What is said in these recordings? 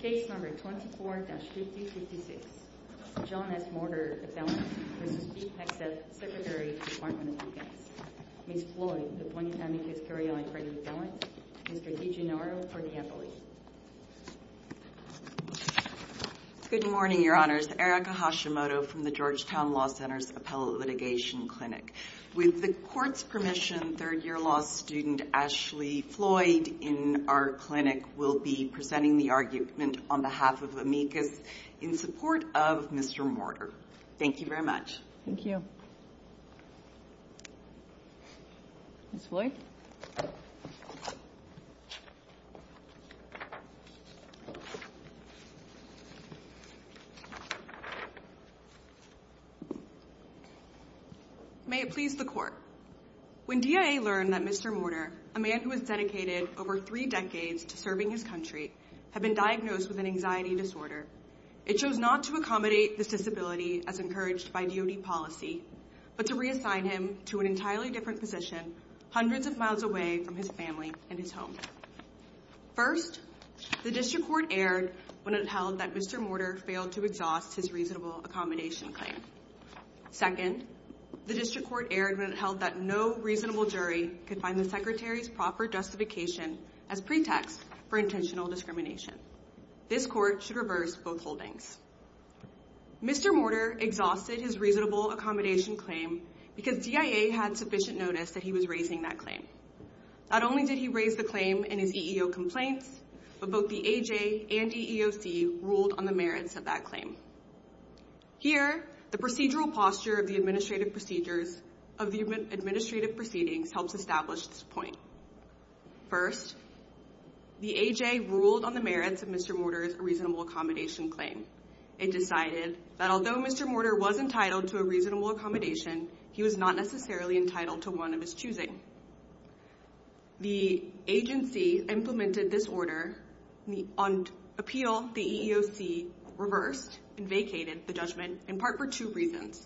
Case number 24-5056, John S. Morter Appellant v. Pete Hegseth, Secretary, Department of Defense. Ms. Floyd, the point of having this carry on for the appellant. Mr. DiGennaro for the appellate. Good morning, your honors. Erica Hashimoto from the Georgetown Law Center's Appellate Litigation Clinic. With the court's permission, third year law student Ashley Floyd in our clinic will be the argument on behalf of amicus in support of Mr. Morter. Thank you very much. Thank you. Ms. Floyd. May it please the court. When DIA learned that Mr. Morter, a man who has dedicated over three decades to serving his country, had been diagnosed with an anxiety disorder, it chose not to accommodate this disability as encouraged by DOD policy, but to reassign him to an entirely different position hundreds of miles away from his family and his home. First, the district court erred when it held that Mr. Morter failed to exhaust his reasonable accommodation claim. Second, the district court erred when it held that no reasonable jury could find the secretary's proper justification as pretext for intentional discrimination. This court should reverse both holdings. Mr. Morter exhausted his reasonable accommodation claim because DIA had sufficient notice that he was raising that claim. Not only did he raise the claim in his EEO complaints, but both the AJ and EEOC ruled on the merits of that claim. Here, the procedural posture of the administrative proceedings helps establish this point. First, the AJ ruled on the merits of Mr. Morter's reasonable accommodation claim. It decided that although Mr. Morter was entitled to a reasonable accommodation, he was not necessarily entitled to one of his choosing. The agency implemented this order. On appeal, the EEOC reversed and vacated the judgment in part for two reasons.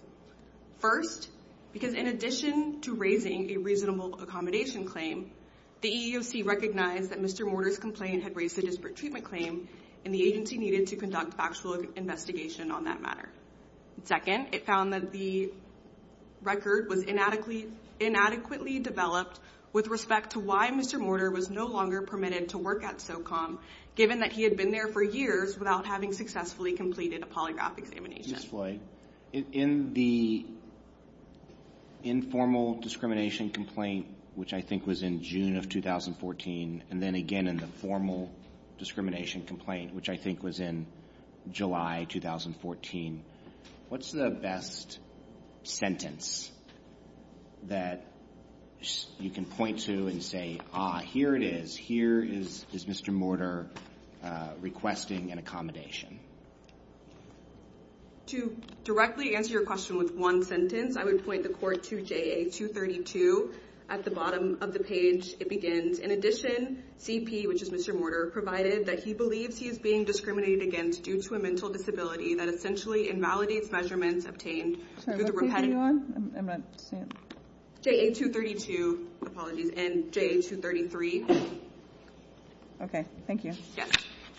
First, because in addition to raising a reasonable accommodation claim, the EEOC recognized that Mr. Morter's complaint had raised a disparate treatment claim, and the agency needed to conduct factual investigation on that matter. Second, it found that the record was inadequately developed with respect to why Mr. Morter was no longer permitted to work at SOCOM, given that he had been there for years without having successfully completed a polygraph examination. Justice Floyd, in the informal discrimination complaint, which I think was in June of 2014, and then again in the formal discrimination complaint, which I think was in July 2014, what's the best sentence that you can point to and say, ah, here it is. Here is Mr. Morter requesting an accommodation. To directly answer your question with one sentence, I would point the court to JA232. At the bottom of the page, it begins, in addition, CP, which is Mr. Morter, provided that he believes he is being discriminated against due to a mental disability that essentially invalidates measurements obtained through the repetitive. JA232, apologies, and JA233. OK, thank you.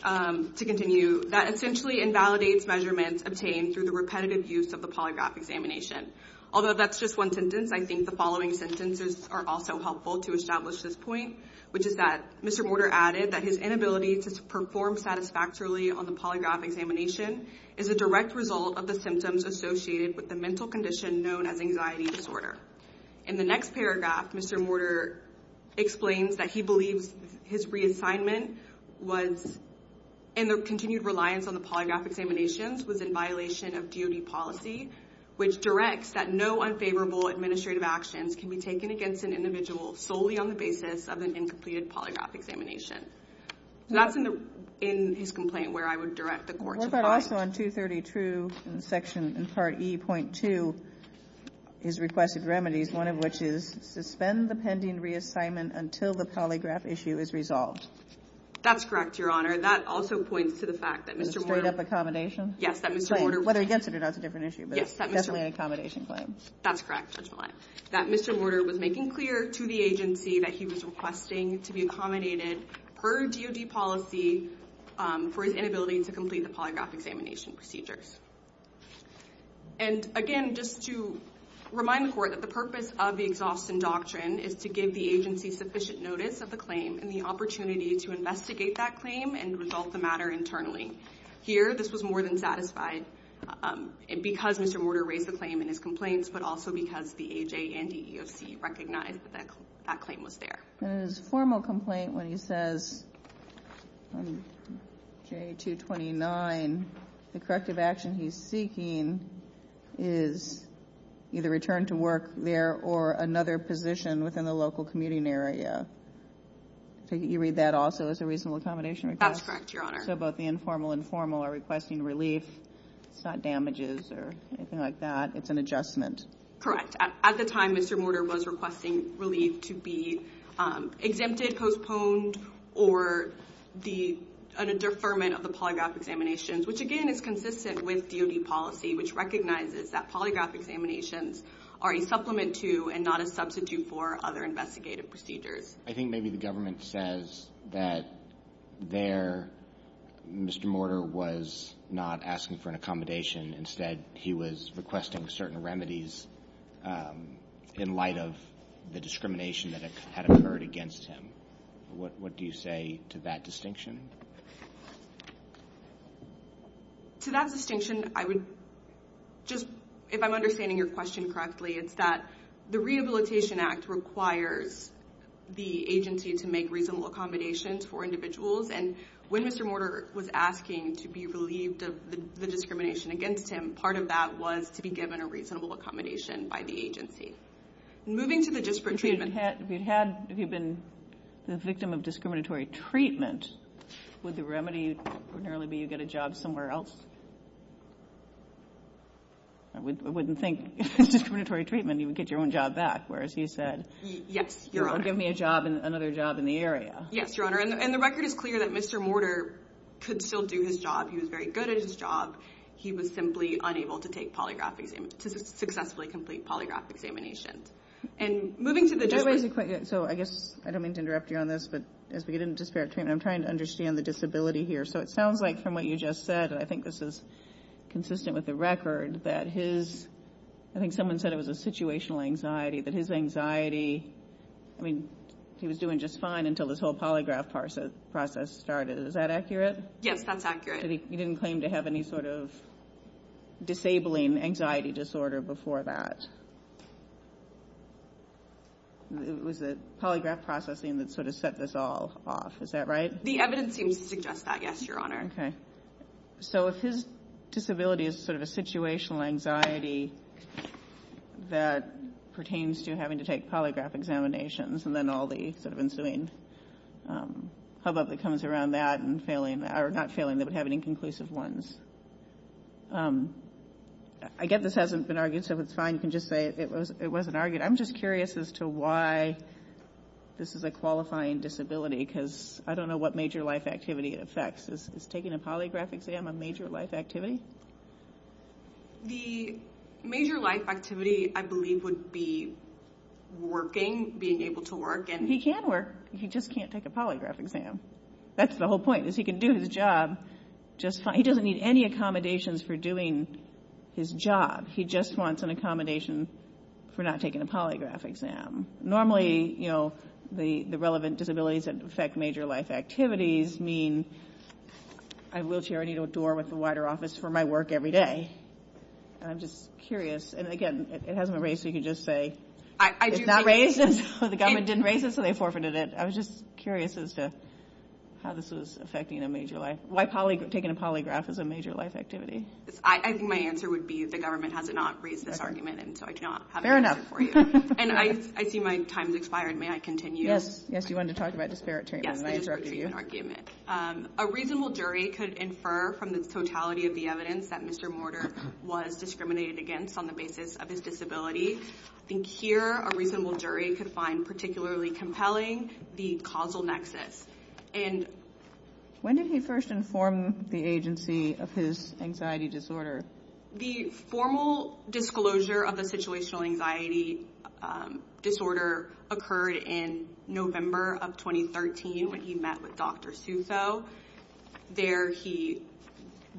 To continue, that essentially invalidates measurements obtained through the repetitive use of the polygraph examination. Although that's just one sentence, I think the following sentences are also helpful to establish this point, which is that Mr. Morter added that his inability to perform satisfactorily on the polygraph examination is a direct result of the symptoms associated with the mental condition known as anxiety disorder. In the next paragraph, Mr. Morter explains that he believes his reassignment was and the continued reliance on the polygraph examinations was in violation of DOD policy, which directs that no unfavorable administrative actions can be taken against an individual solely on the basis of an incompleted polygraph examination. That's in his complaint where I would direct the court to find. What about also on 232, in section, in part E.2, his requested remedies, one of which is suspend the pending reassignment until the polygraph issue is resolved. That's correct, Your Honor. That also points to the fact that Mr. Morter. In a straight up accommodation? Yes, that Mr. Morter. Whether against it or not is a different issue, but it's definitely an accommodation claim. That's correct, Judge Millet. That Mr. Morter was making clear to the agency that he was requesting to be accommodated per DOD policy for his inability to complete the polygraph examination procedures. And again, just to remind the court that the purpose of the Exhaustion Doctrine is to give the agency sufficient notice of the claim and the opportunity to investigate that claim and resolve the matter internally. Here, this was more than satisfied because Mr. Morter raised the claim in his complaints, but also because the AJ and the EEOC recognized that that claim was there. And in his formal complaint when he says on J229, the corrective action he's seeking is either return to work there or another position within the local commuting area. You read that also as a reasonable accommodation request? That's correct, Your Honor. So both the informal and formal are requesting relief. It's not damages or anything like that. It's an adjustment. Correct. At the time, Mr. Morter was requesting relief to be exempted, postponed, or a deferment of the polygraph examinations, which again is consistent with DOD policy, which recognizes that polygraph examinations are a supplement to and not a substitute for other investigative procedures. I think maybe the government says that there, Mr. Morter was not asking for an accommodation. Instead, he was requesting certain remedies in light of the discrimination that had occurred against him. What do you say to that distinction? To that distinction, I would just, if I'm understanding your question correctly, it's that the Rehabilitation Act requires the agency to make reasonable accommodations for individuals. And when Mr. Morter was asking to be relieved of the discrimination against him, part of that was to be given a reasonable accommodation by the agency. Moving to the disparate treatment. If you'd had, if you'd been the victim of discriminatory treatment, would the remedy ordinarily be you get a job somewhere else? I wouldn't think if it's discriminatory treatment, you would get your own job back. Whereas you said, yes, give me a job, another job in the area. Yes, Your Honor. And the record is clear that Mr. Morter could still do his job. He was very good at his job. He was simply unable to take polygraph exam, to successfully complete polygraph examinations. And moving to the disparate treatment. So I guess, I don't mean to interrupt you on this, but as we get into disparate treatment, I'm trying to understand the disability here. So it sounds like from what you just said, I think this is consistent with the record, that his, I think someone said it was a situational anxiety, that his anxiety, I mean, he was doing just fine until this whole polygraph process started. Is that accurate? Yes, that's accurate. He didn't claim to have any sort of disabling anxiety disorder before that. It was the polygraph processing that sort of set this all off. Is that right? The evidence seems to suggest that, yes, Your Honor. OK. So if his disability is sort of a situational anxiety that pertains to having to take polygraph examinations, and then all the sort of ensuing hubbub that comes around that, and failing, or not failing, that would have an inconclusive ones. I get this hasn't been argued, so it's fine. You can just say it wasn't argued. I'm just curious as to why this is a qualifying disability, because I don't know what major life activity it affects. Is taking a polygraph exam a major life activity? The major life activity, I believe, would be working, being able to work. He can work. He just can't take a polygraph exam. That's the whole point, is he can do his job just fine. He doesn't need any accommodations for doing his job. He just wants an accommodation for not taking a polygraph exam. Normally, the relevant disabilities that affect major life activities mean, I wheelchair, I need a door with a wider office for my work every day. I'm just curious, and again, it hasn't been raised, so you can just say it's not raised. The government didn't raise it, so they forfeited it. I was just curious as to how this was affecting a major life, why taking a polygraph is a major life activity. I think my answer would be the government has not raised this argument, and so I do not have an answer for you. And I see my time's expired. May I continue? Yes, yes, you wanted to talk about disparate treatment. Yes, the disparate treatment argument. A reasonable jury could infer from the totality of the evidence that Mr. Mortar was discriminated against on the basis of his disability. I think here, a reasonable jury could find particularly compelling the causal nexus. When did he first inform the agency of his anxiety disorder? The formal disclosure of the situational anxiety disorder occurred in November of 2013 when he met with Dr. Southo. There, he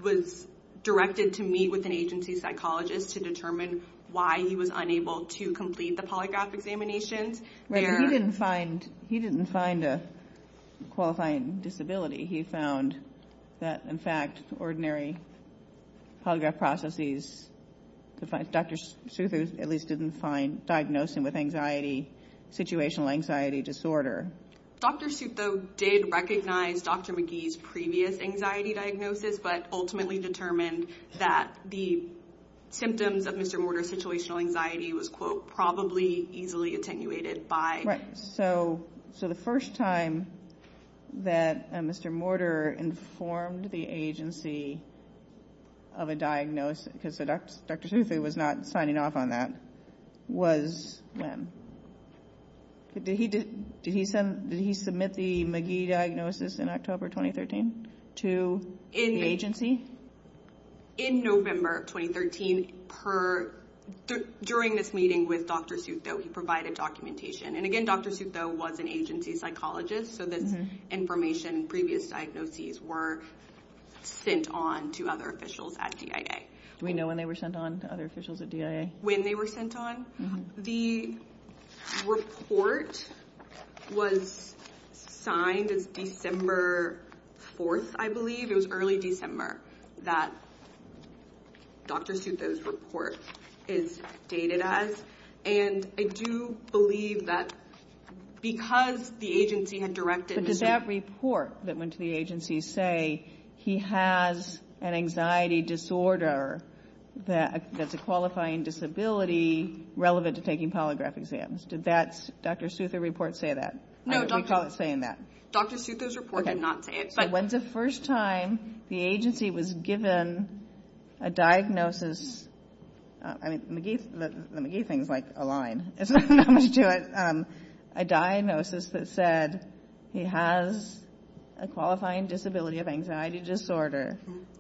was directed to meet with an agency psychologist to determine why he was unable to complete the polygraph examinations. Right, but he didn't find a qualifying disability. He found that, in fact, ordinary polygraph processes, Dr. Southo at least didn't find diagnosing with anxiety, situational anxiety disorder. Dr. Southo did recognize Dr. McGee's previous anxiety diagnosis, but ultimately determined that the symptoms of Mr. Mortar's situational anxiety was, quote, probably easily attenuated by. Right, so the first time that Mr. Mortar informed the agency of a diagnosis, because Dr. Southo was not signing off on that, was when? Did he submit the McGee diagnosis in October 2013 to the agency? In November of 2013, during this meeting with Dr. Southo, he provided documentation. And again, Dr. Southo was an agency psychologist, so this information, previous diagnoses were sent on to other officials at DIA. Do we know when they were sent on, other officials at DIA? When they were sent on? The report was signed as December 4th, I believe. It was early December that Dr. Southo's report is dated as. And I do believe that because the agency had directed Mr. Mortar. But did that report that went to the agency say he has an anxiety disorder that's a qualifying disability relevant to taking polygraph exams? Did Dr. Southo's report say that? No, Dr. Southo's report did not say it. When's the first time the agency was given a diagnosis? I mean, the McGee thing's like a line. It's not much to it. A diagnosis that said he has a qualifying disability of anxiety disorder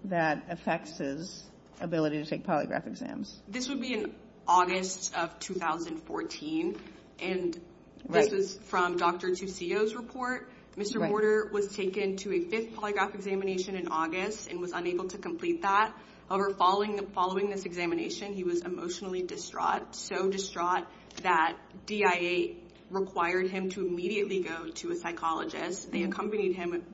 that affects his ability to take polygraph exams. This would be in August of 2014. And this is from Dr. Tuccio's report. Mr. Mortar was taken to a fifth polygraph examination in August and was unable to complete that. However, following this examination, he was emotionally distraught, so distraught that DIA required him to immediately go to a psychologist. They accompanied him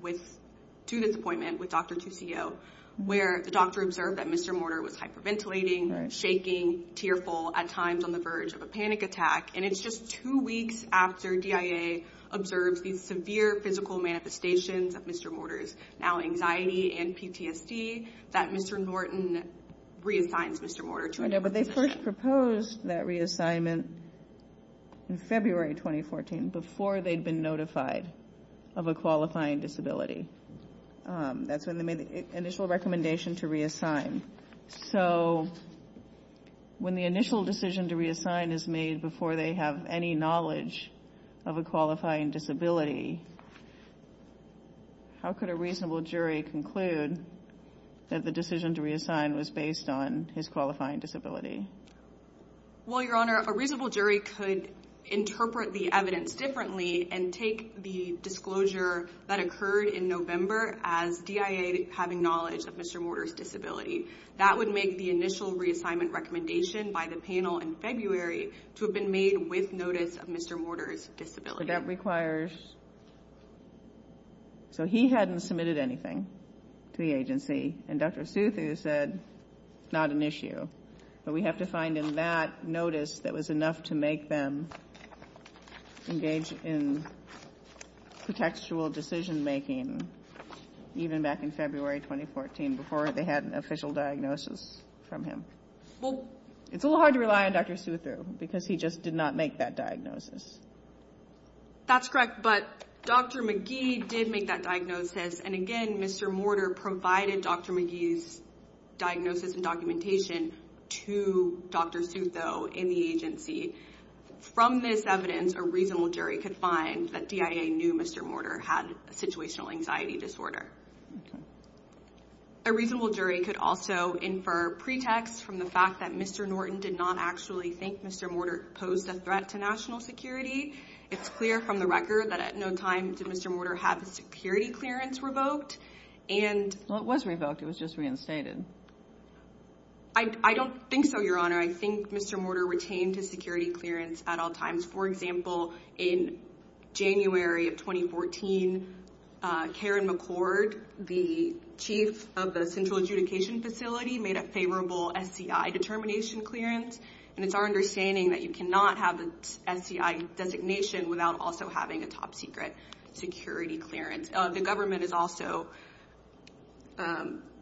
to this appointment with Dr. Tuccio, where the doctor observed that Mr. Mortar was hyperventilating, shaking, tearful, at times on the verge of a panic attack. And it's just two weeks after DIA observes these severe physical manifestations of Mr. Mortar's now anxiety and PTSD that Mr. Norton reassigns Mr. Mortar to a new position. But they first proposed that reassignment in February 2014 before they'd been notified of a qualifying disability. That's when they made the initial recommendation to reassign. So when the initial decision to reassign is made before they have any knowledge of a qualifying disability, how could a reasonable jury conclude that the decision to reassign was based on his qualifying disability? Well, Your Honor, a reasonable jury could interpret the evidence differently and take the disclosure that occurred in November as DIA having knowledge of Mr. Mortar's disability. That would make the initial reassignment recommendation by the panel in February to have been made with notice of Mr. Mortar's disability. But that requires... So he hadn't submitted anything to the agency, and Dr. Southu said, not an issue. But we have to find in that notice that was enough to make them engage in contextual decision making, even back in February 2014, before they had an official diagnosis from him. It's a little hard to rely on Dr. Southu because he just did not make that diagnosis. That's correct, but Dr. McGee did make that diagnosis. And again, Mr. Mortar provided Dr. McGee's diagnosis and documentation to Dr. Southu in the agency. From this evidence, a reasonable jury could find that DIA knew Mr. Mortar had a situational anxiety disorder. A reasonable jury could also infer pretext from the fact that Mr. Norton did not actually think Mr. Mortar posed a threat to national security. It's clear from the record that at no time did Mr. Mortar have a security clearance revoked and... Well, it was revoked, it was just reinstated. I don't think so, Your Honor. I think Mr. Mortar retained his security clearance at all times. For example, in January of 2014, Karen McCord, the chief of the Central Adjudication Facility made a favorable SCI determination clearance. And it's our understanding that you cannot have the SCI designation without also having a top secret security clearance. The government has also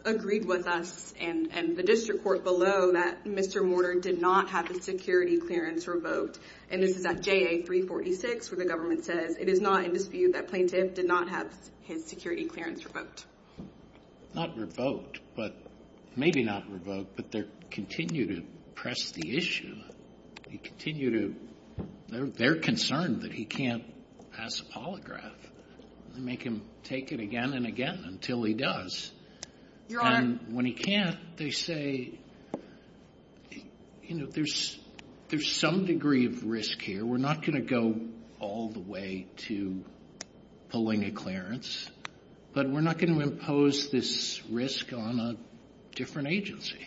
agreed with us and the district court below that Mr. Mortar did not have his security clearance revoked. And this is at JA 346 where the government says, it is not in dispute that plaintiff did not have his security clearance revoked. Not revoked, but maybe not revoked, but they continue to press the issue. They continue to, they're concerned that he can't pass a polygraph. They make him take it again and again until he does. Your Honor. And when he can't, they say, there's some degree of risk here. We're not gonna go all the way to pulling a clearance, but we're not gonna impose this risk on a different agency.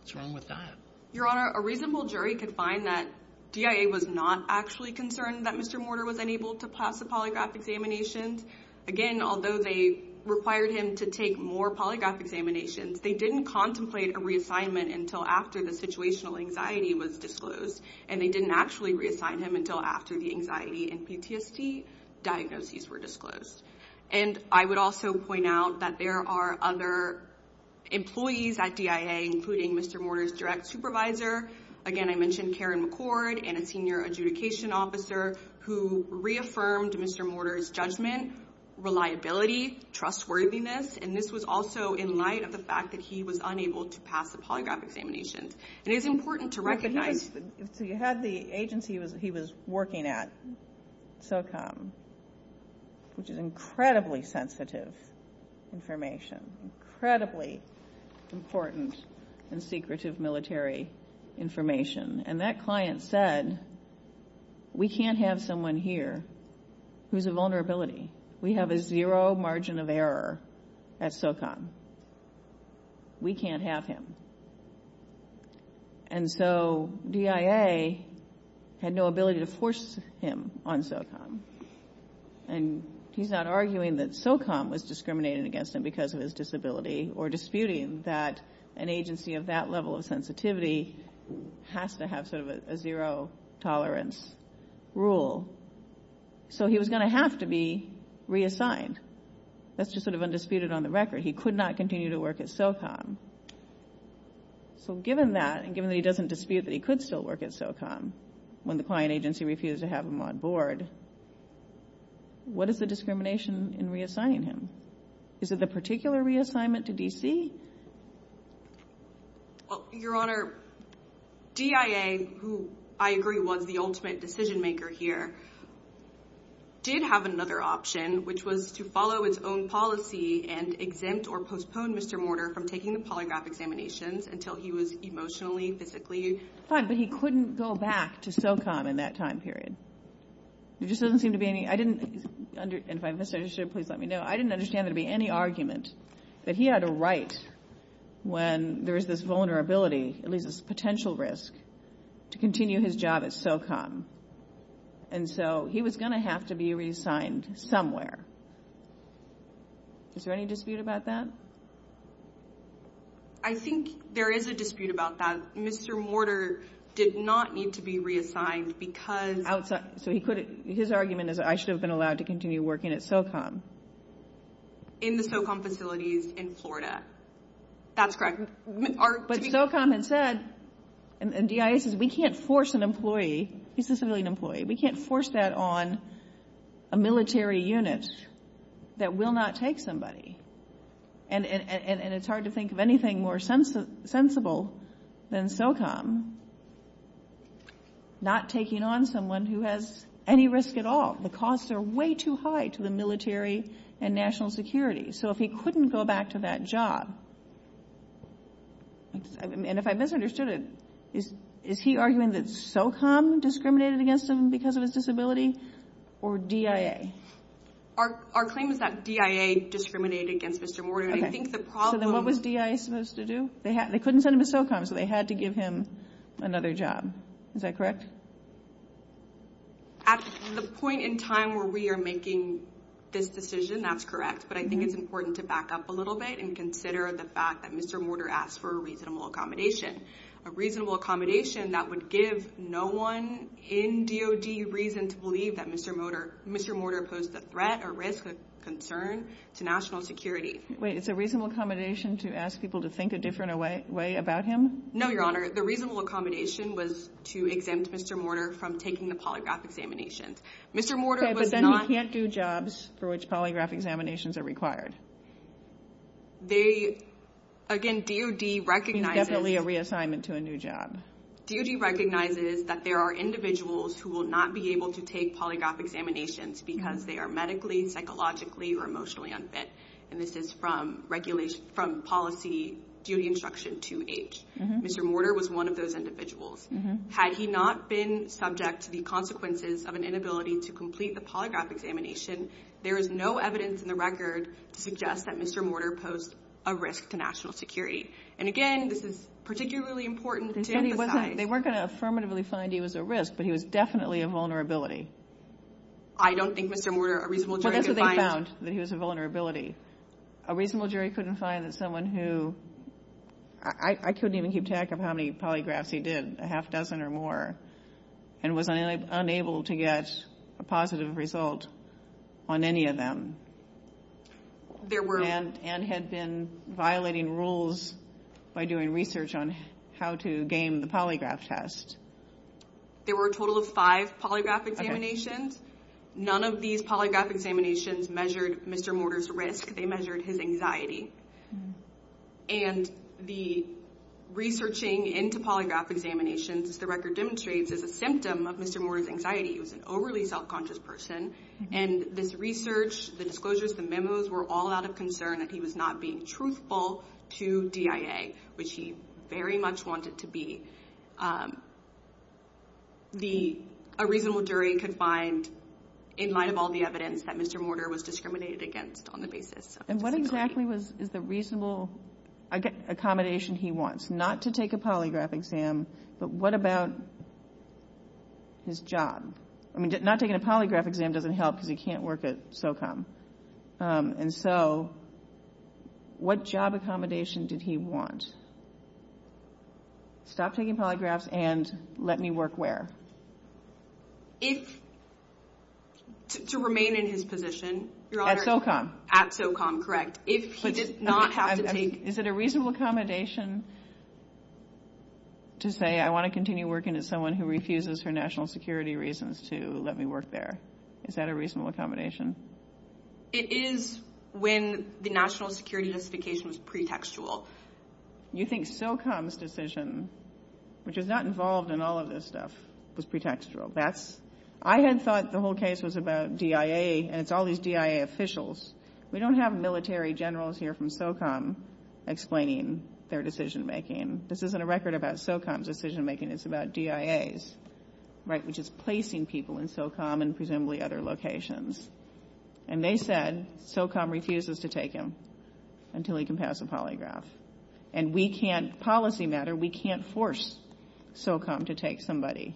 What's wrong with that? Your Honor, a reasonable jury could find that DIA was not actually concerned that Mr. Mortar was unable to pass the polygraph examinations. Again, although they required him to take more polygraph examinations, they didn't contemplate a reassignment until after the situational anxiety was disclosed. And they didn't actually reassign him until after the anxiety and PTSD diagnoses were disclosed. And I would also point out that there are other employees at DIA, including Mr. Mortar's direct supervisor. Again, I mentioned Karen McCord and a senior adjudication officer who reaffirmed Mr. Mortar's judgment, reliability, trustworthiness. And this was also in light of the fact that he was unable to pass the polygraph examinations. And it's important to recognize- So you had the agency he was working at, SOCOM, which is incredibly sensitive information, incredibly important and secretive military information. And that client said, we can't have someone here who's a vulnerability. We have a zero margin of error at SOCOM. We can't have him. And so DIA had no ability to force him on SOCOM. And he's not arguing that SOCOM was discriminating against him because of his disability or disputing that an agency of that level of sensitivity has to have sort of a zero tolerance rule. So he was going to have to be reassigned. That's just sort of undisputed on the record. He could not continue to work at SOCOM. So given that, and given that he doesn't dispute that he could still work at SOCOM when the client agency refused to have him on board, what is the discrimination in reassigning him? Is it the particular reassignment to DC? Well, Your Honor, DIA, who I agree was the ultimate decision maker here, did have another option, which was to follow its own policy and exempt or postpone Mr. Mortar from taking the polygraph examinations until he was emotionally, physically fine. But he couldn't go back to SOCOM in that time period. There just doesn't seem to be any, I didn't, and if I misunderstood, please let me know. I didn't understand there to be any argument that he had a right when there is this vulnerability, at least this potential risk, to continue his job at SOCOM. And so he was going to have to be reassigned somewhere. Is there any dispute about that? I think there is a dispute about that. Mr. Mortar did not need to be reassigned because- Outside, so he couldn't, his argument is I should have been allowed to continue working at SOCOM. In the SOCOM facilities in Florida. That's correct. But SOCOM had said, and DIA says, we can't force an employee, he's a civilian employee, we can't force that on a military unit that will not take somebody. And it's hard to think of anything more sensible than SOCOM. Not taking on someone who has any risk at all. The costs are way too high to the military and national security. So if he couldn't go back to that job, and if I misunderstood it, is he arguing that SOCOM discriminated against him because of his disability, or DIA? Our claim is that DIA discriminated against Mr. Mortar. And I think the problem- So then what was DIA supposed to do? They couldn't send him to SOCOM, so they had to give him another job. Is that correct? At the point in time where we are making this decision, that's correct. But I think it's important to back up a little bit and consider the fact that Mr. Mortar asked for a reasonable accommodation. A reasonable accommodation that would give no one in DOD reason to believe that Mr. Mortar posed a threat or risk or concern to national security. Wait, it's a reasonable accommodation to ask people to think a different way about him? No, Your Honor. The reasonable accommodation was to exempt Mr. Mortar from taking the polygraph examinations. Mr. Mortar was not- Okay, but then you can't do jobs for which polygraph examinations are required. They, again, DOD recognizes- It means definitely a reassignment to a new job. DOD recognizes that there are individuals who will not be able to take polygraph examinations because they are medically, psychologically, or emotionally unfit. And this is from policy duty instruction 2H. Mr. Mortar was one of those individuals. Had he not been subject to the consequences of an inability to complete the polygraph examination, there is no evidence in the record to suggest that Mr. Mortar posed a risk to national security. And again, this is particularly important to emphasize. They weren't gonna affirmatively find he was a risk, but he was definitely a vulnerability. I don't think Mr. Mortar, a reasonable jury, could find- Well, that's what they found, that he was a vulnerability. A reasonable jury couldn't find that someone who, I couldn't even keep track of how many polygraphs he did, a half dozen or more, and was unable to get a positive result on any of them. There were- And had been violating rules by doing research on how to game the polygraph test. There were a total of five polygraph examinations. None of these polygraph examinations measured Mr. Mortar's risk. They measured his anxiety. And the researching into polygraph examinations, as the record demonstrates, is a symptom of Mr. Mortar's anxiety. He was an overly self-conscious person. And this research, the disclosures, the memos were all out of concern that he was not being truthful to DIA, which he very much wanted to be. A reasonable jury could find, in light of all the evidence, that Mr. Mortar was discriminated against on the basis of- And what exactly is the reasonable accommodation he wants? Not to take a polygraph exam, but what about his job? I mean, not taking a polygraph exam doesn't help because he can't work at SOCOM. And so, what job accommodation did he want? Stop taking polygraphs and let me work where? If, to remain in his position- At SOCOM. At SOCOM, correct. If he did not have to take- Is it a reasonable accommodation to say, I want to continue working as someone who refuses for national security reasons to let me work there? Is that a reasonable accommodation? It is when the national security justification was pretextual. You think SOCOM's decision, which is not involved in all of this stuff, was pretextual? I had thought the whole case was about DIA and it's all these DIA officials. We don't have military generals here from SOCOM explaining their decision-making. This isn't a record about SOCOM's decision-making, it's about DIA's, right? Which is placing people in SOCOM and presumably other locations. And they said, SOCOM refuses to take him until he can pass a polygraph. And we can't, policy matter, we can't force SOCOM to take somebody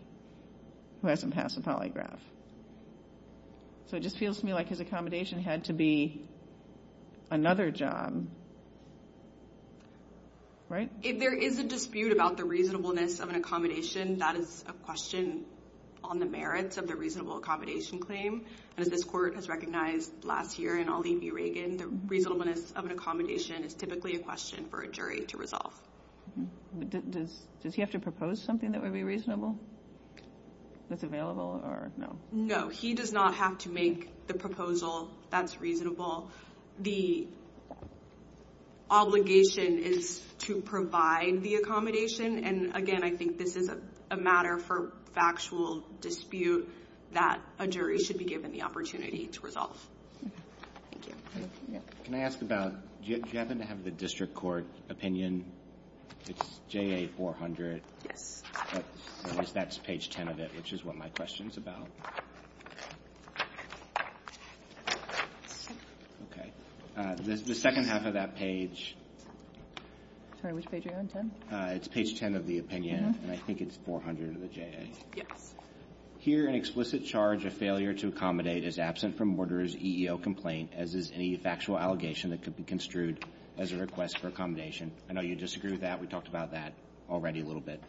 who hasn't passed a polygraph. So it just feels to me like his accommodation had to be another job. Right? If there is a dispute about the reasonableness of an accommodation, that is a question on the merits of the reasonable accommodation claim. And as this court has recognized last year in Ali v. Reagan, the reasonableness of an accommodation is typically a question for a jury to resolve. Does he have to propose something that would be reasonable? That's available or not? No, he does not have to make the proposal that's reasonable. The obligation is to provide the accommodation. And again, I think this is a matter for factual dispute that a jury should be given the opportunity to resolve. Can I ask about, do you happen to have the district court opinion? It's JA-400. Yes. But that's page 10 of it, which is what my question's about. Okay. The second half of that page. Sorry, which page are you on, 10? It's page 10 of the opinion, and I think it's 400 of the JA. Yes. Here, an explicit charge of failure to accommodate is absent from order's EEO complaint, as is any factual allegation that could be construed as a request for accommodation. I know you disagree with that. We talked about that already a little bit.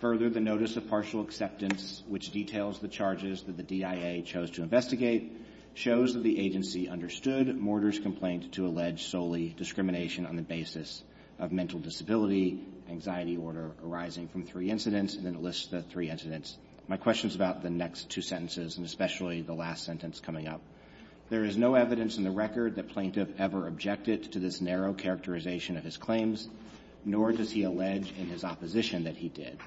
Further, the notice of partial acceptance, which details the charges that the DIA chose to investigate, shows that the agency understood Mortar's complaint to allege solely discrimination on the basis of mental disability, anxiety order arising from three incidents, and then it lists the three incidents. My question's about the next two sentences, and especially the last sentence coming up. There is no evidence in the record that Plaintiff ever objected to this narrow characterization of his claims, nor does he allege in his opposition that he did.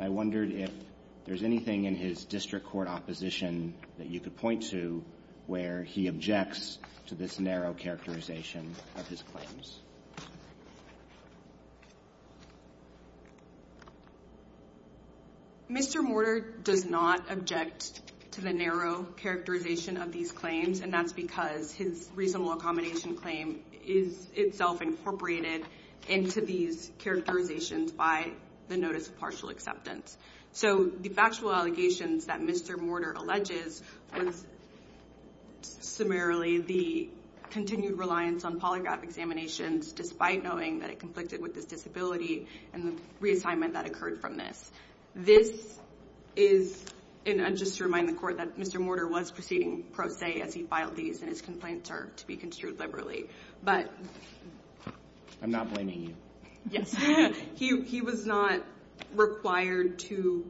I wondered if there's anything in his district court opposition that you could point to where he objects to this narrow characterization of his claims. Mr. Mortar does not object to the narrow characterization of these claims, and that's because his reasonable accommodation claim is itself incorporated into these characterizations by the notice of partial acceptance. So, the factual allegations that Mr. Mortar alleges was summarily the continued reliance on polygraph examinations, despite knowing that it conflicted with his disability and the reassignment that occurred from this. This is, and just to remind the court, that Mr. Mortar was proceeding pro se as he filed these, and his complaints are to be construed liberally. But... I'm not blaming you. Yes. He was not required to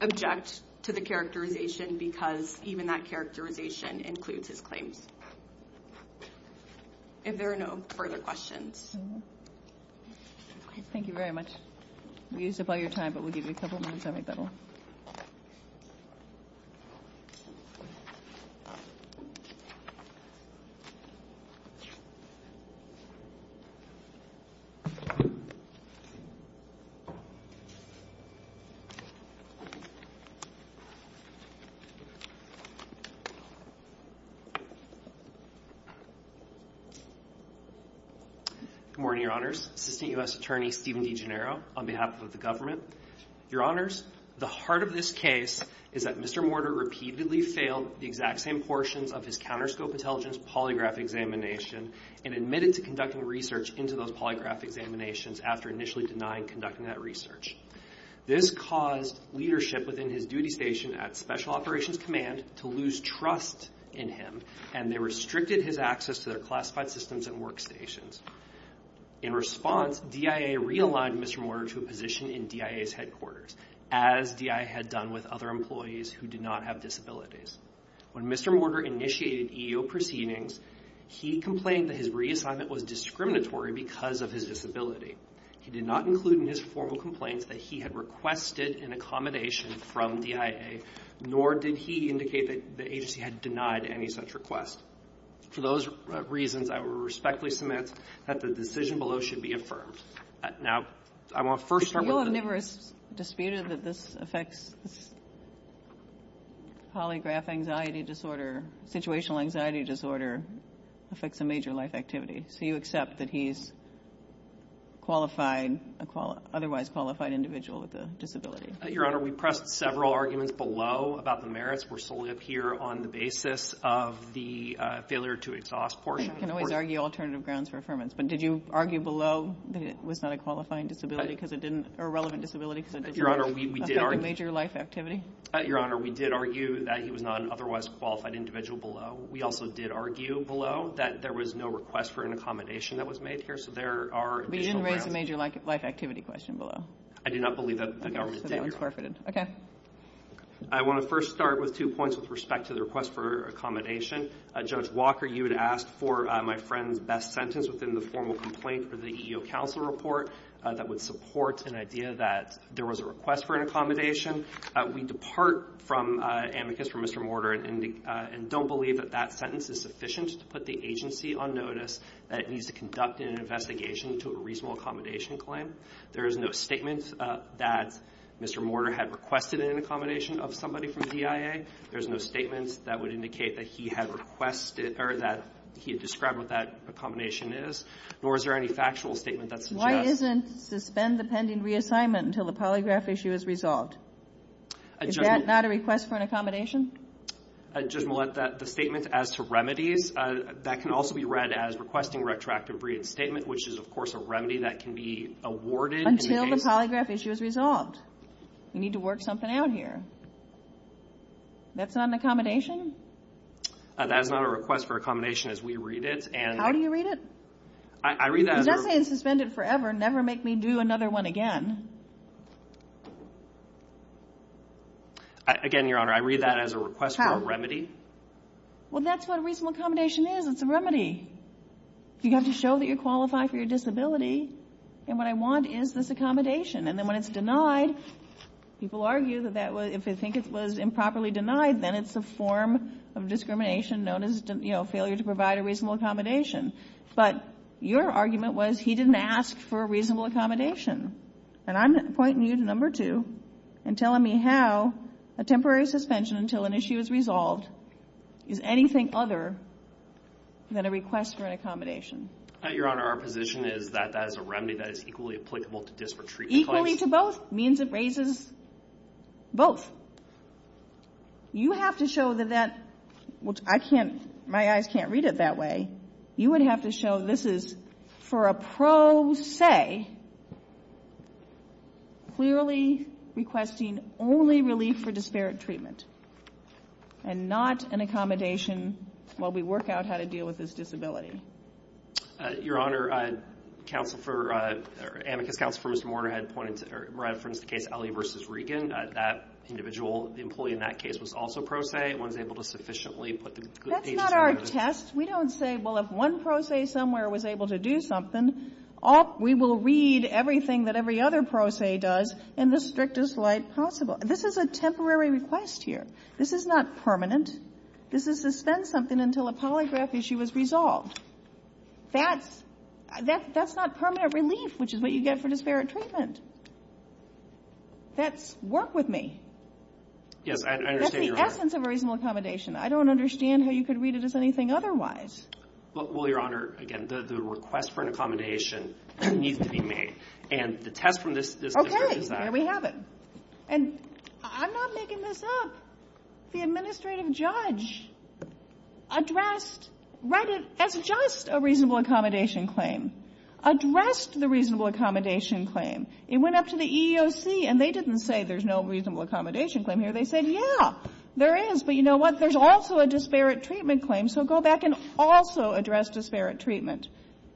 object to the characterization, because even that characterization includes his claims. If there are no further questions. Thank you very much. We used up all your time, but we'll give you a couple minutes every bit. Thank you. Good morning, your honors. Assistant U.S. Attorney, Stephen DeGennaro, on behalf of the government. Your honors, the heart of this case is that Mr. Mortar repeatedly failed the exact same portions of his counterscope intelligence polygraph examination, and admitted to conducting research into those polygraph examinations after initially denying conducting that research. This caused leadership within his duty station at Special Operations Command to lose trust in him, and they restricted his access to their classified systems and workstations. In response, DIA realigned Mr. Mortar to a position in DIA's headquarters, as DIA had done with other employees who did not have disabilities. When Mr. Mortar initiated EEO proceedings, he complained that his reassignment was discriminatory because of his disability. He did not include in his formal complaints that he had requested an accommodation from DIA, nor did he indicate that the agency had denied any such request. For those reasons, I will respectfully submit that the decision below should be affirmed. Now, I want to first start with the- Polygraph anxiety disorder, situational anxiety disorder, affects a major life activity. So you accept that he's qualified, otherwise qualified individual with a disability? Your Honor, we pressed several arguments below about the merits. We're solely up here on the basis of the failure to exhaust portion. I can always argue alternative grounds for affirmance, but did you argue below that it was not a qualifying disability because it didn't, or a relevant disability because it didn't affect a major life activity? Your Honor, we did argue that he was not an otherwise qualified individual below. We also did argue below that there was no request for an accommodation that was made here. So there are- But you didn't raise a major life activity question below. I do not believe that- Okay, so that was forfeited. Okay. I want to first start with two points with respect to the request for accommodation. Judge Walker, you had asked for my friend's best sentence within the formal complaint for the EEO counsel report that would support an idea that there was a request for an accommodation. We depart from amicus from Mr. Mortar and don't believe that that sentence is sufficient to put the agency on notice that it needs to conduct an investigation to a reasonable accommodation claim. There is no statement that Mr. Mortar had requested an accommodation of somebody from the DIA. There's no statement that would indicate that he had requested, or that he had described what that accommodation is, nor is there any factual statement that suggests- Why isn't suspend the pending reassignment until the polygraph issue is resolved? Is that not a request for an accommodation? Judge Millett, the statement as to remedies, that can also be read as requesting retroactive breed statement, which is, of course, a remedy that can be awarded- Until the polygraph issue is resolved. We need to work something out here. That's not an accommodation? That is not a request for accommodation as we read it. How do you read it? I read that- He's not saying suspend it forever, never make me do another one again. Again, Your Honor, I read that as a request for a remedy. Well, that's what a reasonable accommodation is. It's a remedy. You have to show that you qualify for your disability. And what I want is this accommodation. And then when it's denied, people argue that if they think it was improperly denied, then it's a form of discrimination known as failure to provide a reasonable accommodation. But your argument was, he didn't ask for a reasonable accommodation. And I'm pointing you to number two and telling me how a temporary suspension until an issue is resolved is anything other than a request for an accommodation. Your Honor, our position is that that is a remedy that is equally applicable to dis-retreat- Equally to both means it raises both. You have to show that that, which I can't, my eyes can't read it that way. You would have to show this is for a pro se, clearly requesting only relief for disparate treatment and not an accommodation while we work out how to deal with this disability. Your Honor, counsel for, amicus counsel for Mr. Warner had pointed to referenced the case Alley v. Regan. That individual, the employee in that case was also pro se. One was able to sufficiently put the good- That's not our test. We don't say, well, if one pro se somewhere was able to do something, we will read everything that every other pro se does in the strictest light possible. This is a temporary request here. This is not permanent. This is suspend something until a polygraph issue is resolved. That's not permanent relief, which is what you get for disparate treatment. That's work with me. Yes, I understand your point. That's the essence of a reasonable accommodation. I don't understand how you could read it as anything otherwise. Well, Your Honor, again, the request for an accommodation needs to be made. And the test from this- Okay, there we have it. And I'm not making this up. The administrative judge addressed, read it as just a reasonable accommodation claim, addressed the reasonable accommodation claim. It went up to the EEOC and they didn't say there's no reasonable accommodation claim here. They said, yeah, there is. But you know what? There's also a disparate treatment claim. So go back and also address disparate treatment.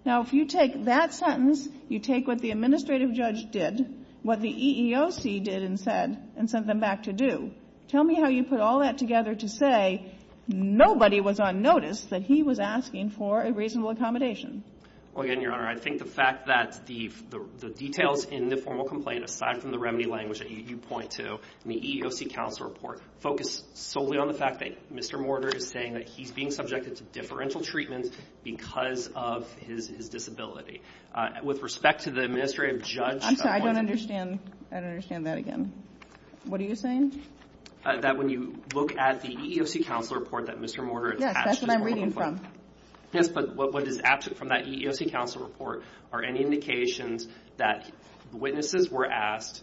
Now, if you take that sentence, you take what the administrative judge did, what the EEOC did and said, and sent them back to do. Tell me how you put all that together to say nobody was on notice that he was asking for a reasonable accommodation. Well, again, Your Honor, I think the fact that the details in the formal complaint, aside from the remedy language that you point to, in the EEOC counsel report, focus solely on the fact that Mr. Mortar is saying that he's being subjected to differential treatment because of his disability. With respect to the administrative judge. I'm sorry, I don't understand. I don't understand that again. What are you saying? That when you look at the EEOC counsel report that Mr. Mortar has asked. Yes, that's what I'm reading from. Yes, but what is absent from that EEOC counsel report are any indications that witnesses were asked,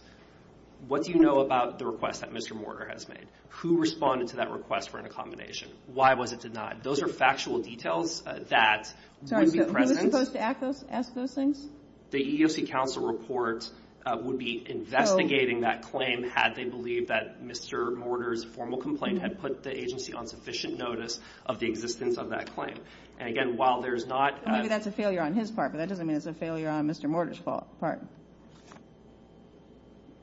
what do you know about the request that Mr. Mortar has made? Who responded to that request for an accommodation? Why was it denied? Those are factual details that would be present. Who was supposed to ask those things? The EEOC counsel report would be investigating that claim had they believed that Mr. Mortar's formal complaint had put the agency on sufficient notice of the existence of that claim. And again, while there's not. Maybe that's a failure on his part, but that doesn't mean it's a failure on Mr. Mortar's part.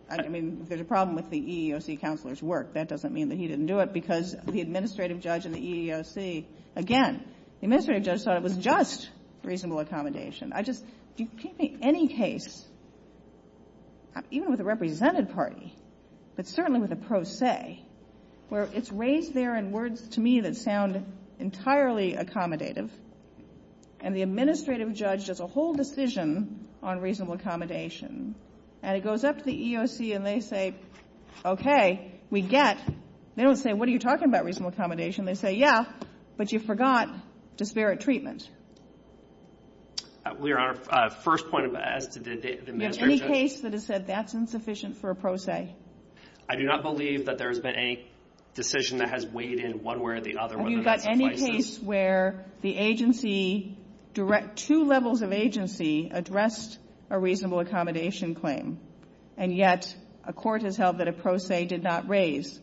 I mean, there's a problem with the EEOC counselor's work. That doesn't mean that he didn't do it because the administrative judge in the EEOC, again, the administrative judge thought it was just reasonable accommodation. I just, can you think of any case, even with a represented party, but certainly with a pro se, where it's raised there in words to me that sound entirely accommodative, and the administrative judge does a whole decision on reasonable accommodation, and it goes up to the EEOC and they say, okay, we get, they don't say, what are you talking about, reasonable accommodation? They say, yeah, but you forgot disparate treatment. We are on our first point as to the administrative judge. You have any case that has said that's insufficient for a pro se? I do not believe that there has been any decision that has weighed in one way or the other whether that's a crisis. Have you got any case where the agency, direct two levels of agency addressed a reasonable accommodation claim, and yet a court has held that a pro se did not raise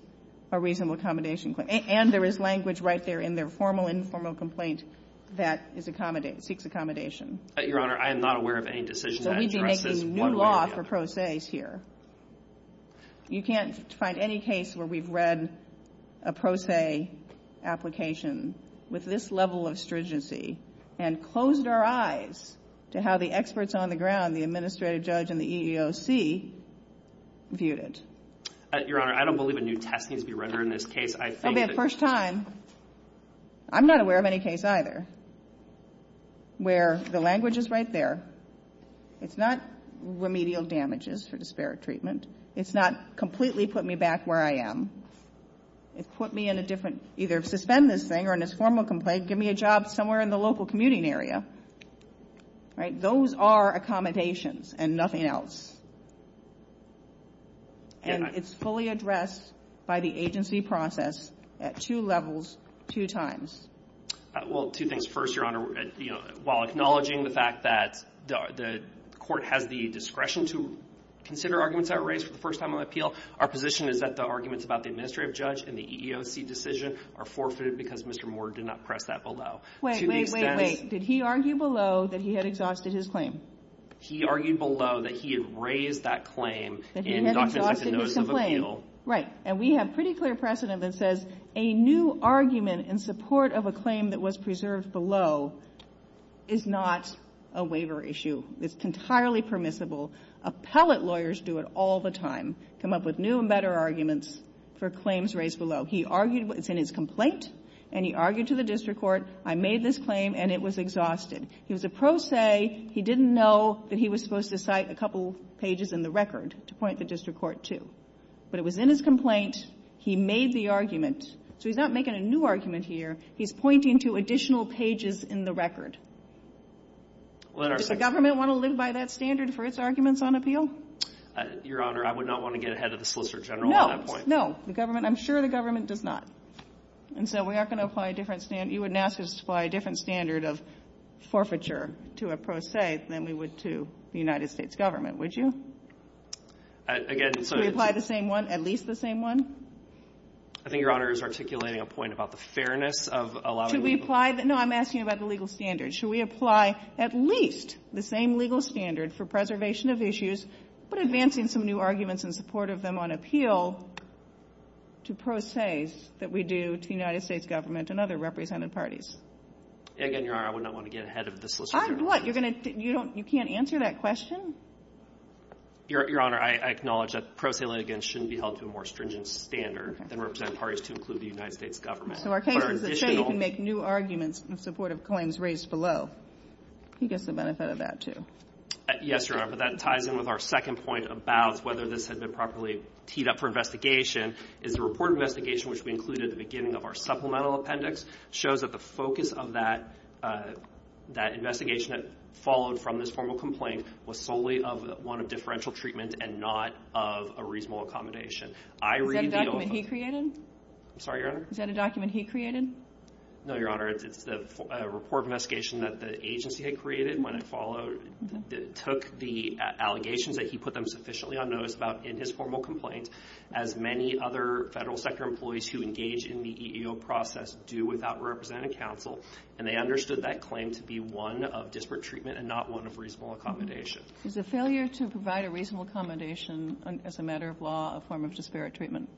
a reasonable accommodation claim? And there is language right there in their formal, informal complaint that is accommodating, seeks accommodation. Your Honor, I am not aware of any decision that addresses one way or the other. So we'd be making new law for pro se's here. You can't find any case where we've read a pro se application with this level of stringency and closed our eyes to how the experts on the ground, the administrative judge and the EEOC viewed it. Your Honor, I don't believe a new test needs to be rendered in this case. I think that- It'll be the first time. I'm not aware of any case either where the language is right there. It's not remedial damages for disparate treatment. It's not completely put me back where I am. It put me in a different, either suspend this thing or in this formal complaint, give me a job somewhere in the local commuting area. Those are accommodations and nothing else. And it's fully addressed by the agency process at two levels, two times. Well, two things. First, Your Honor, while acknowledging the fact that the court has the discretion to consider arguments that were raised for the first time on the appeal, our position is that the arguments about the administrative judge and the EEOC decision are forfeited because Mr. Moore did not press that below. To the extent- Wait, wait, wait, wait. Did he argue below that he had exhausted his claim? He argued below that he had raised that claim in documents like the Notice of Appeal. Right, and we have pretty clear precedent that says a new argument in support of a claim that was preserved below is not a waiver issue. It's entirely permissible. Appellate lawyers do it all the time, come up with new and better arguments for claims raised below. He argued, it's in his complaint, and he argued to the district court, I made this claim and it was exhausted. He was a pro se, he didn't know that he was supposed to cite a couple pages in the record to point the district court to. But it was in his complaint, he made the argument. So he's not making a new argument here, he's pointing to additional pages in the record. Does the government want to live by that standard for its arguments on appeal? Your Honor, I would not want to get ahead of the Solicitor General on that point. No, the government, I'm sure the government does not. And so we aren't going to apply a different standard, you wouldn't ask us to apply a different standard of forfeiture to a pro se than we would to the United States government, would you? Again, so- Should we apply the same one, at least the same one? I think Your Honor is articulating a point about the fairness of allowing- Should we apply, no, I'm asking about the legal standards. Should we apply at least the same legal standard for preservation of issues, but advancing some new arguments in support of them on appeal to pro se's that we do to the United States government and other represented parties? Again, Your Honor, I would not want to get ahead of the Solicitor General. I'm what, you can't answer that question? Your Honor, I acknowledge that pro se litigants shouldn't be held to a more stringent standard than represented parties to include the United States government. So our case is that say you can make new arguments in support of claims raised below. He gets the benefit of that too. Yes, Your Honor, but that ties in with our second point about whether this had been properly teed up for investigation is the report of investigation, which we included at the beginning of our supplemental appendix, shows that the focus of that investigation that followed from this formal complaint was solely of one of differential treatment and not of a reasonable accommodation. I read the- Is that a document he created? I'm sorry, Your Honor? Is that a document he created? No, Your Honor, it's the report of investigation that the agency had created when it followed, took the allegations that he put them sufficiently unnoticed about in his formal complaint as many other federal sector employees who engage in the EEO process do without representative counsel, and they understood that claim to be one of disparate treatment and not one of reasonable accommodation. Is a failure to provide a reasonable accommodation as a matter of law a form of disparate treatment?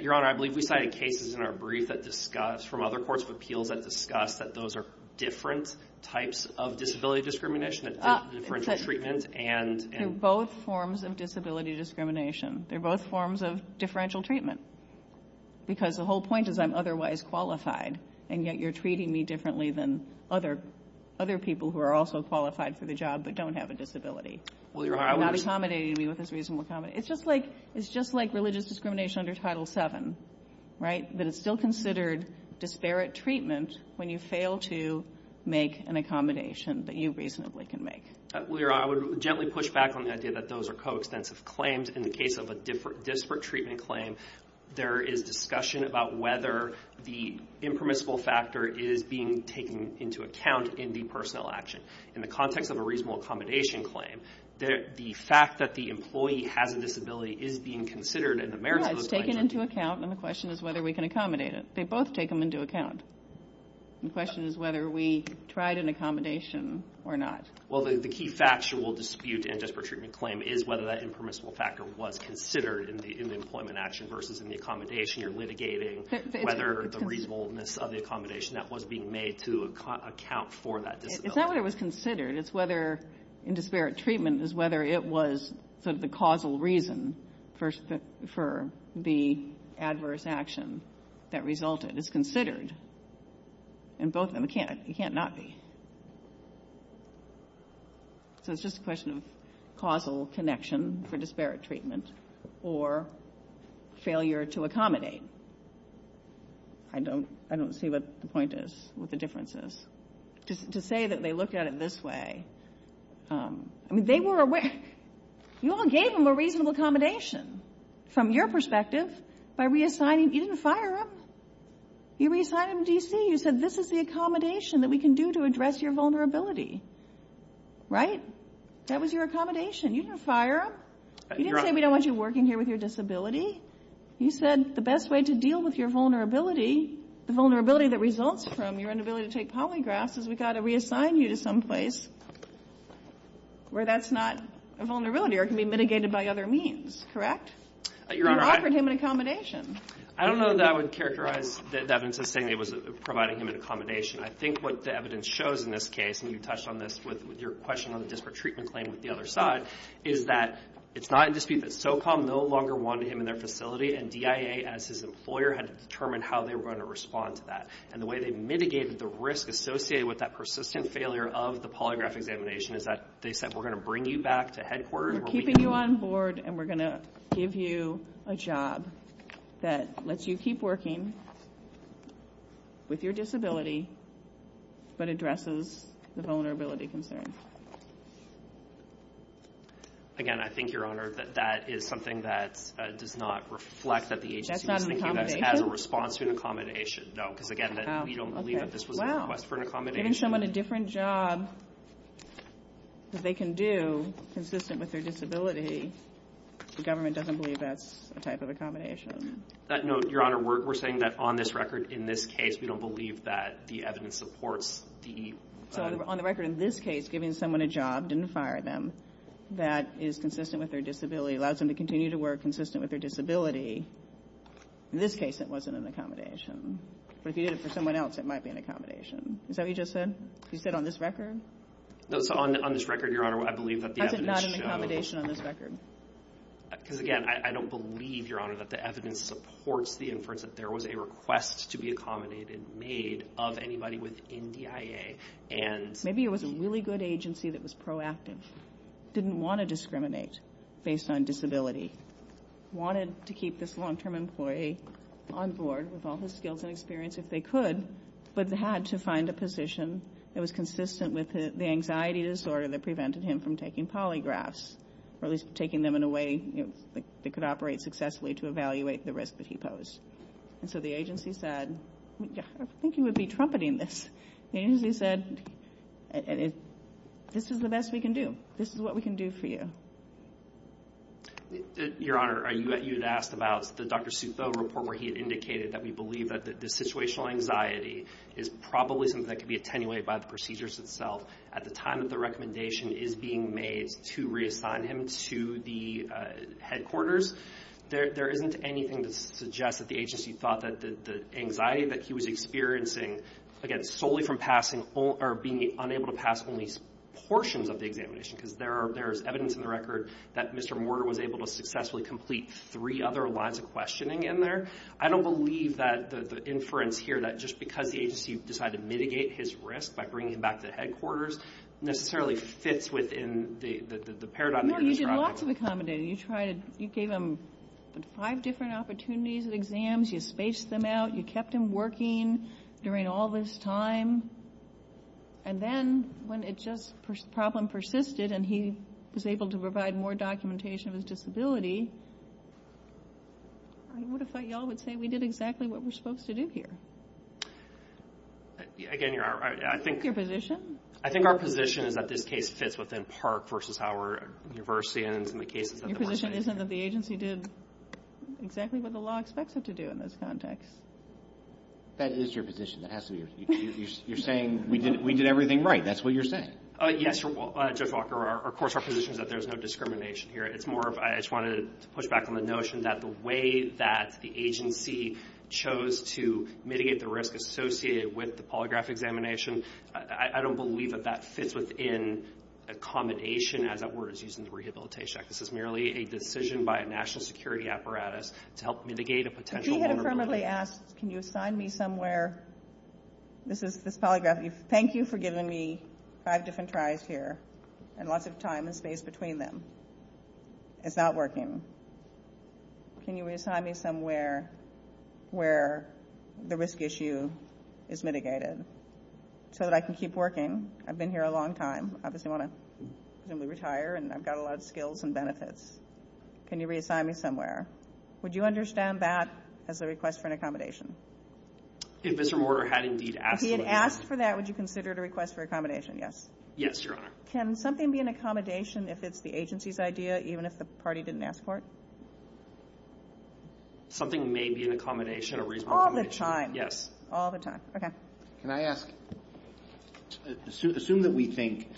Your Honor, I believe we cited cases in our brief that discussed from other courts of appeals that discussed that those are different types of disability discrimination, differential treatment, and- They're both forms of disability discrimination. They're both forms of differential treatment because the whole point is I'm otherwise qualified, and yet you're treating me differently than other people who are also qualified for the job but don't have a disability. Well, Your Honor, I was- You're not accommodating me with this reasonable accommodation. It's just like religious discrimination under Title VII, right? That it's still considered disparate treatment when you fail to make an accommodation that you reasonably can make. Well, Your Honor, I would gently push back on the idea that those are coextensive claims. In the case of a disparate treatment claim, there is discussion about whether the impermissible factor is being taken into account in the personnel action. In the context of a reasonable accommodation claim, the fact that the employee has a disability is being considered in the merits of those clients- Yeah, it's taken into account, and the question is whether we can accommodate it. They both take them into account. The question is whether we tried an accommodation or not. Well, the key factual dispute in a disparate treatment claim is whether that impermissible factor was considered in the employment action versus in the accommodation. You're litigating whether the reasonableness of the accommodation that was being made to account for that disability. It's not whether it was considered. It's whether, in disparate treatment, is whether it was sort of the causal reason for the adverse action that resulted. It's considered, and both of them, it can't not be. So it's just a question of causal connection for disparate treatment or failure to accommodate. I don't see what the point is, what the difference is. To say that they look at it this way, I mean, they were aware. You all gave them a reasonable accommodation from your perspective by reassigning. You didn't fire them. You reassigned them to DC. You said, this is the accommodation that we can do to address your vulnerability, right? That was your accommodation. You didn't fire them. You didn't say, we don't want you working here with your disability. You said, the best way to deal with your vulnerability, the vulnerability that results from your inability to take polygraphs is we gotta reassign you to someplace where that's not a vulnerability or can be mitigated by other means, correct? You offered him an accommodation. I don't know that I would characterize the evidence as saying it was providing him an accommodation. I think what the evidence shows in this case, and you touched on this with your question on the disparate treatment claim with the other side, is that it's not a dispute that SOCOM no longer wanted him in their facility and DIA, as his employer, had to determine how they were gonna respond to that. And the way they mitigated the risk associated with that persistent failure of the polygraph examination is that they said, we're gonna bring you back to headquarters. We're keeping you on board and we're gonna give you a job that lets you keep working with your disability but addresses the vulnerability concerns. Again, I think, Your Honor, that that is something that does not reflect that the agency was thinking of this as a response to an accommodation. No, because again, we don't believe that this was a request for an accommodation. Giving someone a different job that they can do, consistent with their disability, the government doesn't believe that's a type of accommodation. That note, Your Honor, we're saying that on this record, in this case, we don't believe that the evidence supports the... So on the record, in this case, giving someone a job, didn't fire them, that is consistent with their disability, allows them to continue to work consistent with their disability. In this case, it wasn't an accommodation. But if you did it for someone else, it might be an accommodation. Is that what you just said? You said on this record? No, so on this record, Your Honor, I believe that the evidence shows... Why is it not an accommodation on this record? Because again, I don't believe, Your Honor, that the evidence supports the inference that there was a request to be accommodated, made, of anybody within DIA, and... Maybe it was a really good agency that was proactive, didn't want to discriminate based on disability, wanted to keep this long-term employee on board with all his skills and experience if they could, but had to find a position that was consistent with the anxiety disorder that prevented him from taking polygraphs, or at least taking them in a way that could operate successfully to evaluate the risk that he posed. And so the agency said, I think you would be trumpeting this. The agency said, this is the best we can do. This is what we can do for you. Your Honor, you had asked about the Dr. Souffo report where he had indicated that we believe that the situational anxiety is probably something that could be attenuated by the procedures itself at the time that the recommendation is being made to reassign him to the headquarters. There isn't anything that suggests that the agency thought that the anxiety that he was experiencing, again, solely from being unable to pass only portions of the examination, because there is evidence in the record that Mr. Mortar was able to successfully complete three other lines of questioning in there. I don't believe that the inference here that just because the agency decided to mitigate his risk by bringing him back to the headquarters necessarily fits within the paradigm of the disruption. No, you did lots of accommodating. You gave him five different opportunities at exams. You spaced them out. You kept him working during all this time. And then when the problem persisted and he was able to provide more documentation of his disability, I would have thought y'all would say we did exactly what we're supposed to do here. Again, I think our position is that this case fits within PARCC versus our university and some of the cases that we're saying here. Your position isn't that the agency did exactly what the law expects it to do in this context. That is your position. That has to be your, you're saying we did everything right. That's what you're saying. Yes, Judge Walker, of course, our position is that there's no discrimination here. It's more of, I just wanted to make sure to push back on the notion that the way that the agency chose to mitigate the risk associated with the polygraph examination, I don't believe that that fits within accommodation as that word is used in the Rehabilitation Act. This is merely a decision by a national security apparatus to help mitigate a potential vulnerability. If he had affirmatively asked, can you assign me somewhere, this is this polygraph, thank you for giving me five different tries here and lots of time and space between them. It's not working. Can you reassign me somewhere where the risk issue is mitigated so that I can keep working? I've been here a long time. Obviously I want to retire and I've got a lot of skills and benefits. Can you reassign me somewhere? Would you understand that as a request for an accommodation? If Mr. Mortar had indeed asked for that. If he had asked for that, would you consider it a request for accommodation, yes? Yes, Your Honor. Can something be an accommodation if it's the agency's idea, even if the party didn't ask for it? Something may be an accommodation, a reasonable accommodation. All the time. Yes. All the time. Okay. Can I ask, assume that we think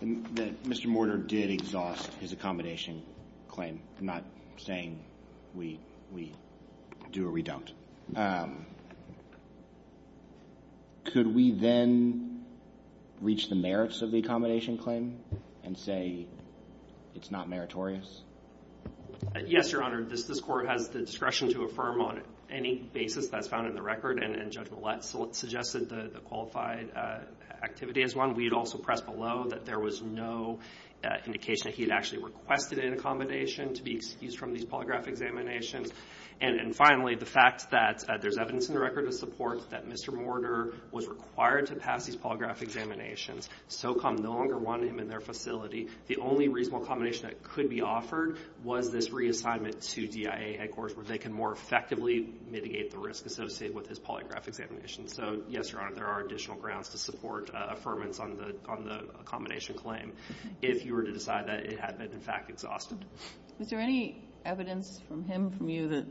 that Mr. Mortar did exhaust his accommodation claim, not saying we do or we don't. Could we then reach the merits of the accommodation claim? And say it's not meritorious? Yes, Your Honor. This court has the discretion to affirm on any basis that's found in the record. And Judge Millett suggested the qualified activity as one. We'd also press below that there was no indication that he had actually requested an accommodation to be excused from these polygraph examinations. And finally, the fact that there's evidence in the record to support that Mr. Mortar was required to pass these polygraph examinations. SOCOM no longer wanted him in their facility. The only reasonable accommodation that could be offered was this reassignment to DIA headquarters, where they can more effectively mitigate the risk associated with his polygraph examination. So, yes, Your Honor, there are additional grounds to support affirmance on the accommodation claim if you were to decide that it had been, in fact, exhausted. Was there any evidence from him, from you, that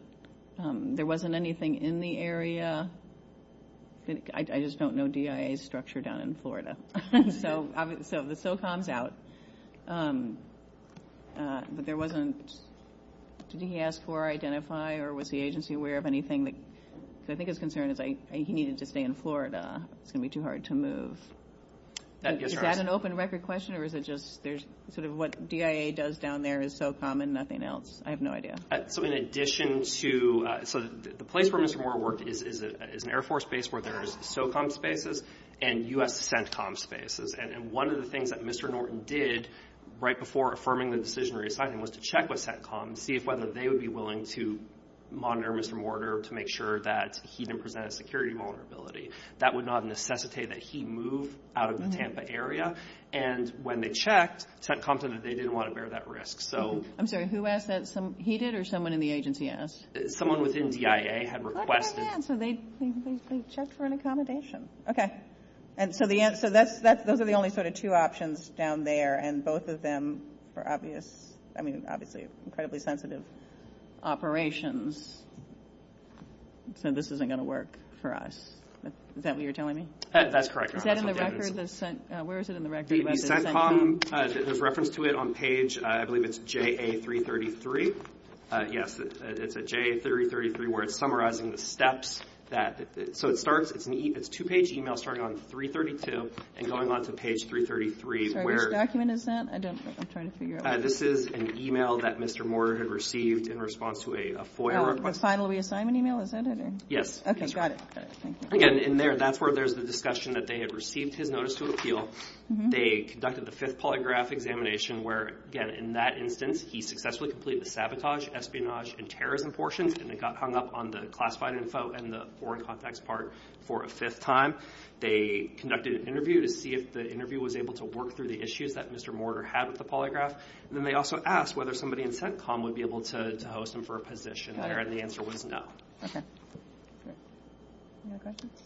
there wasn't anything in the area? I just don't know DIA's structure down in Florida. So the SOCOM's out, but there wasn't, did he ask for or identify, or was the agency aware of anything that, because I think his concern is he needed to stay in Florida. It's going to be too hard to move. Is that an open record question, or is it just there's sort of what DIA does down there is SOCOM and nothing else? I have no idea. So in addition to, so the place where Mr. Mortar worked is an Air Force base where there is SOCOM spaces and U.S. CENTCOM spaces. And one of the things that Mr. Norton did right before affirming the decisionary assignment was to check with CENTCOM, see if whether they would be willing to monitor Mr. Mortar to make sure that he didn't present a security vulnerability. That would not necessitate that he move out of the Tampa area. And when they checked, CENTCOM said that they didn't want to bear that risk. So. I'm sorry, who asked that? He did, or someone in the agency asked? Someone within DIA had requested. Yeah, so they checked for an accommodation. Okay. And so the answer, those are the only sort of two options down there, and both of them are obvious, I mean, obviously incredibly sensitive operations. So this isn't going to work for us. Is that what you're telling me? That's correct. Is that in the record? Where is it in the record? The CENTCOM, there's reference to it on page, I believe it's JA333. Yes, it's a JA333 where it's summarizing the steps that, so it starts, it's a two-page email starting on 332 and going on to page 333. Sorry, which document is that? I don't, I'm trying to figure out. This is an email that Mr. Mortar had received in response to a FOIA request. The final reassignment email, is that it? Yes. Okay, got it. Again, in there, that's where there's the discussion that they had received his notice to appeal. They conducted the fifth polygraph examination where, again, in that instance, he successfully completed the sabotage, espionage, and terrorism portions, and it got hung up on the classified info and the foreign contacts part for a fifth time. They conducted an interview to see if the interview was able to work through the issues that Mr. Mortar had with the polygraph. And then they also asked whether somebody in CENTCOM would be able to host him for a position there, and the answer was no. Okay, great. Any other questions?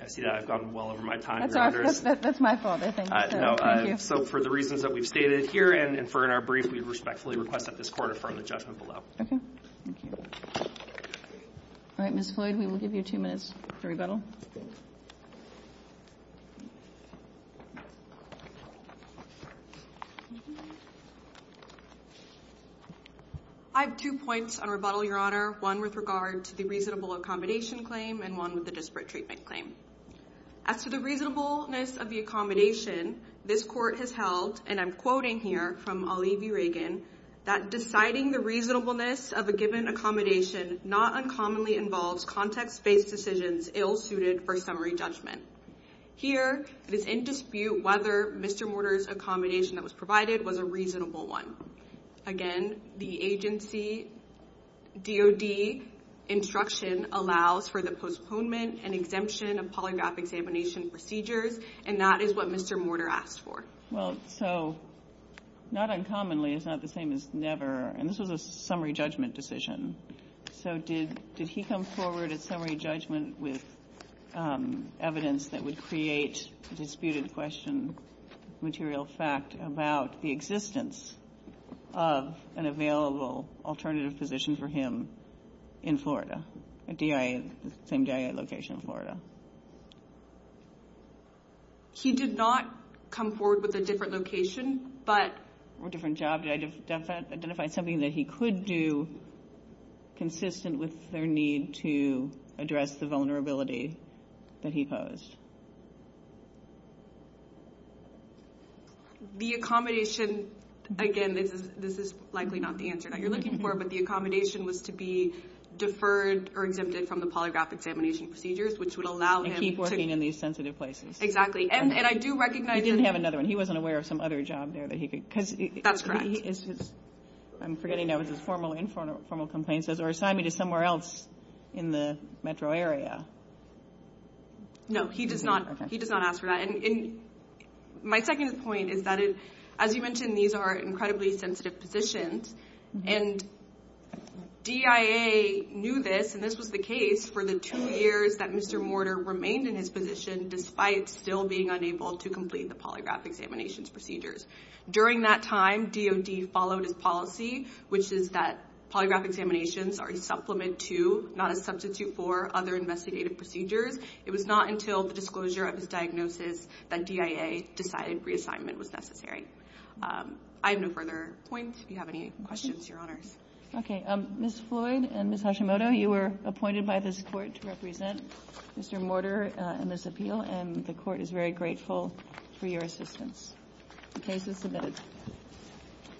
I see that I've gone well over my time, your Honours. That's my fault, I think. No, so for the reasons that we've stated here and for in our brief, we respectfully request that this Court affirm the judgment below. Okay, thank you. All right, Ms. Floyd, we will give you two minutes for rebuttal. I have two points on rebuttal, your Honour, one with regard to the reasonable accommodation claim and one with the disparate treatment claim. As to the reasonableness of the accommodation, this Court has held, and I'm quoting here from Olivier Reagan, that deciding the reasonableness of a given accommodation not uncommonly involves context-based decisions ill-suited for summary judgment. Here, it is in dispute whether Mr. Mortar's accommodation that was provided was a reasonable one. Again, the agency DOD instruction allows for the postponement and exemption of polygraph examination procedures, and that is what Mr. Mortar asked for. Well, so, not uncommonly is not the same as never, and this was a summary judgment decision, so did he come forward at summary judgment with evidence that would create a disputed question, material fact about the existence of an available alternative position for him in Florida, at the same DIA location in Florida? He did not come forward with a different location, but... Or a different job, did I identify something that he could do consistent with their need to address the vulnerability that he posed? The accommodation, again, this is likely not the answer that you're looking for, but the accommodation was to be deferred or exempted from the polygraph examination procedures, which would allow him to... And keep working in these sensitive places. Exactly, and I do recognize that... He didn't have another one. He wasn't aware of some other job there that he could... That's correct. I'm forgetting, that was his formal, informal complaint, says, or assign me to somewhere else in the metro area. No, he does not ask for that, and my second point is that, as you mentioned, these are incredibly sensitive positions, and DIA knew this, and this was the case for the two years that Mr. Mortar remained in his position, despite still being unable to complete the polygraph examinations procedures. During that time, DOD followed his policy, which is that polygraph examinations are a supplement to, not a substitute for, other investigative procedures. It was not until the disclosure of his diagnosis that DIA decided reassignment was necessary. I have no further points. If you have any questions, your honors. Okay, Ms. Floyd and Ms. Hashimoto, you were appointed by this court to represent Mr. Mortar in this appeal, and the court is very grateful for your assistance. The case is submitted.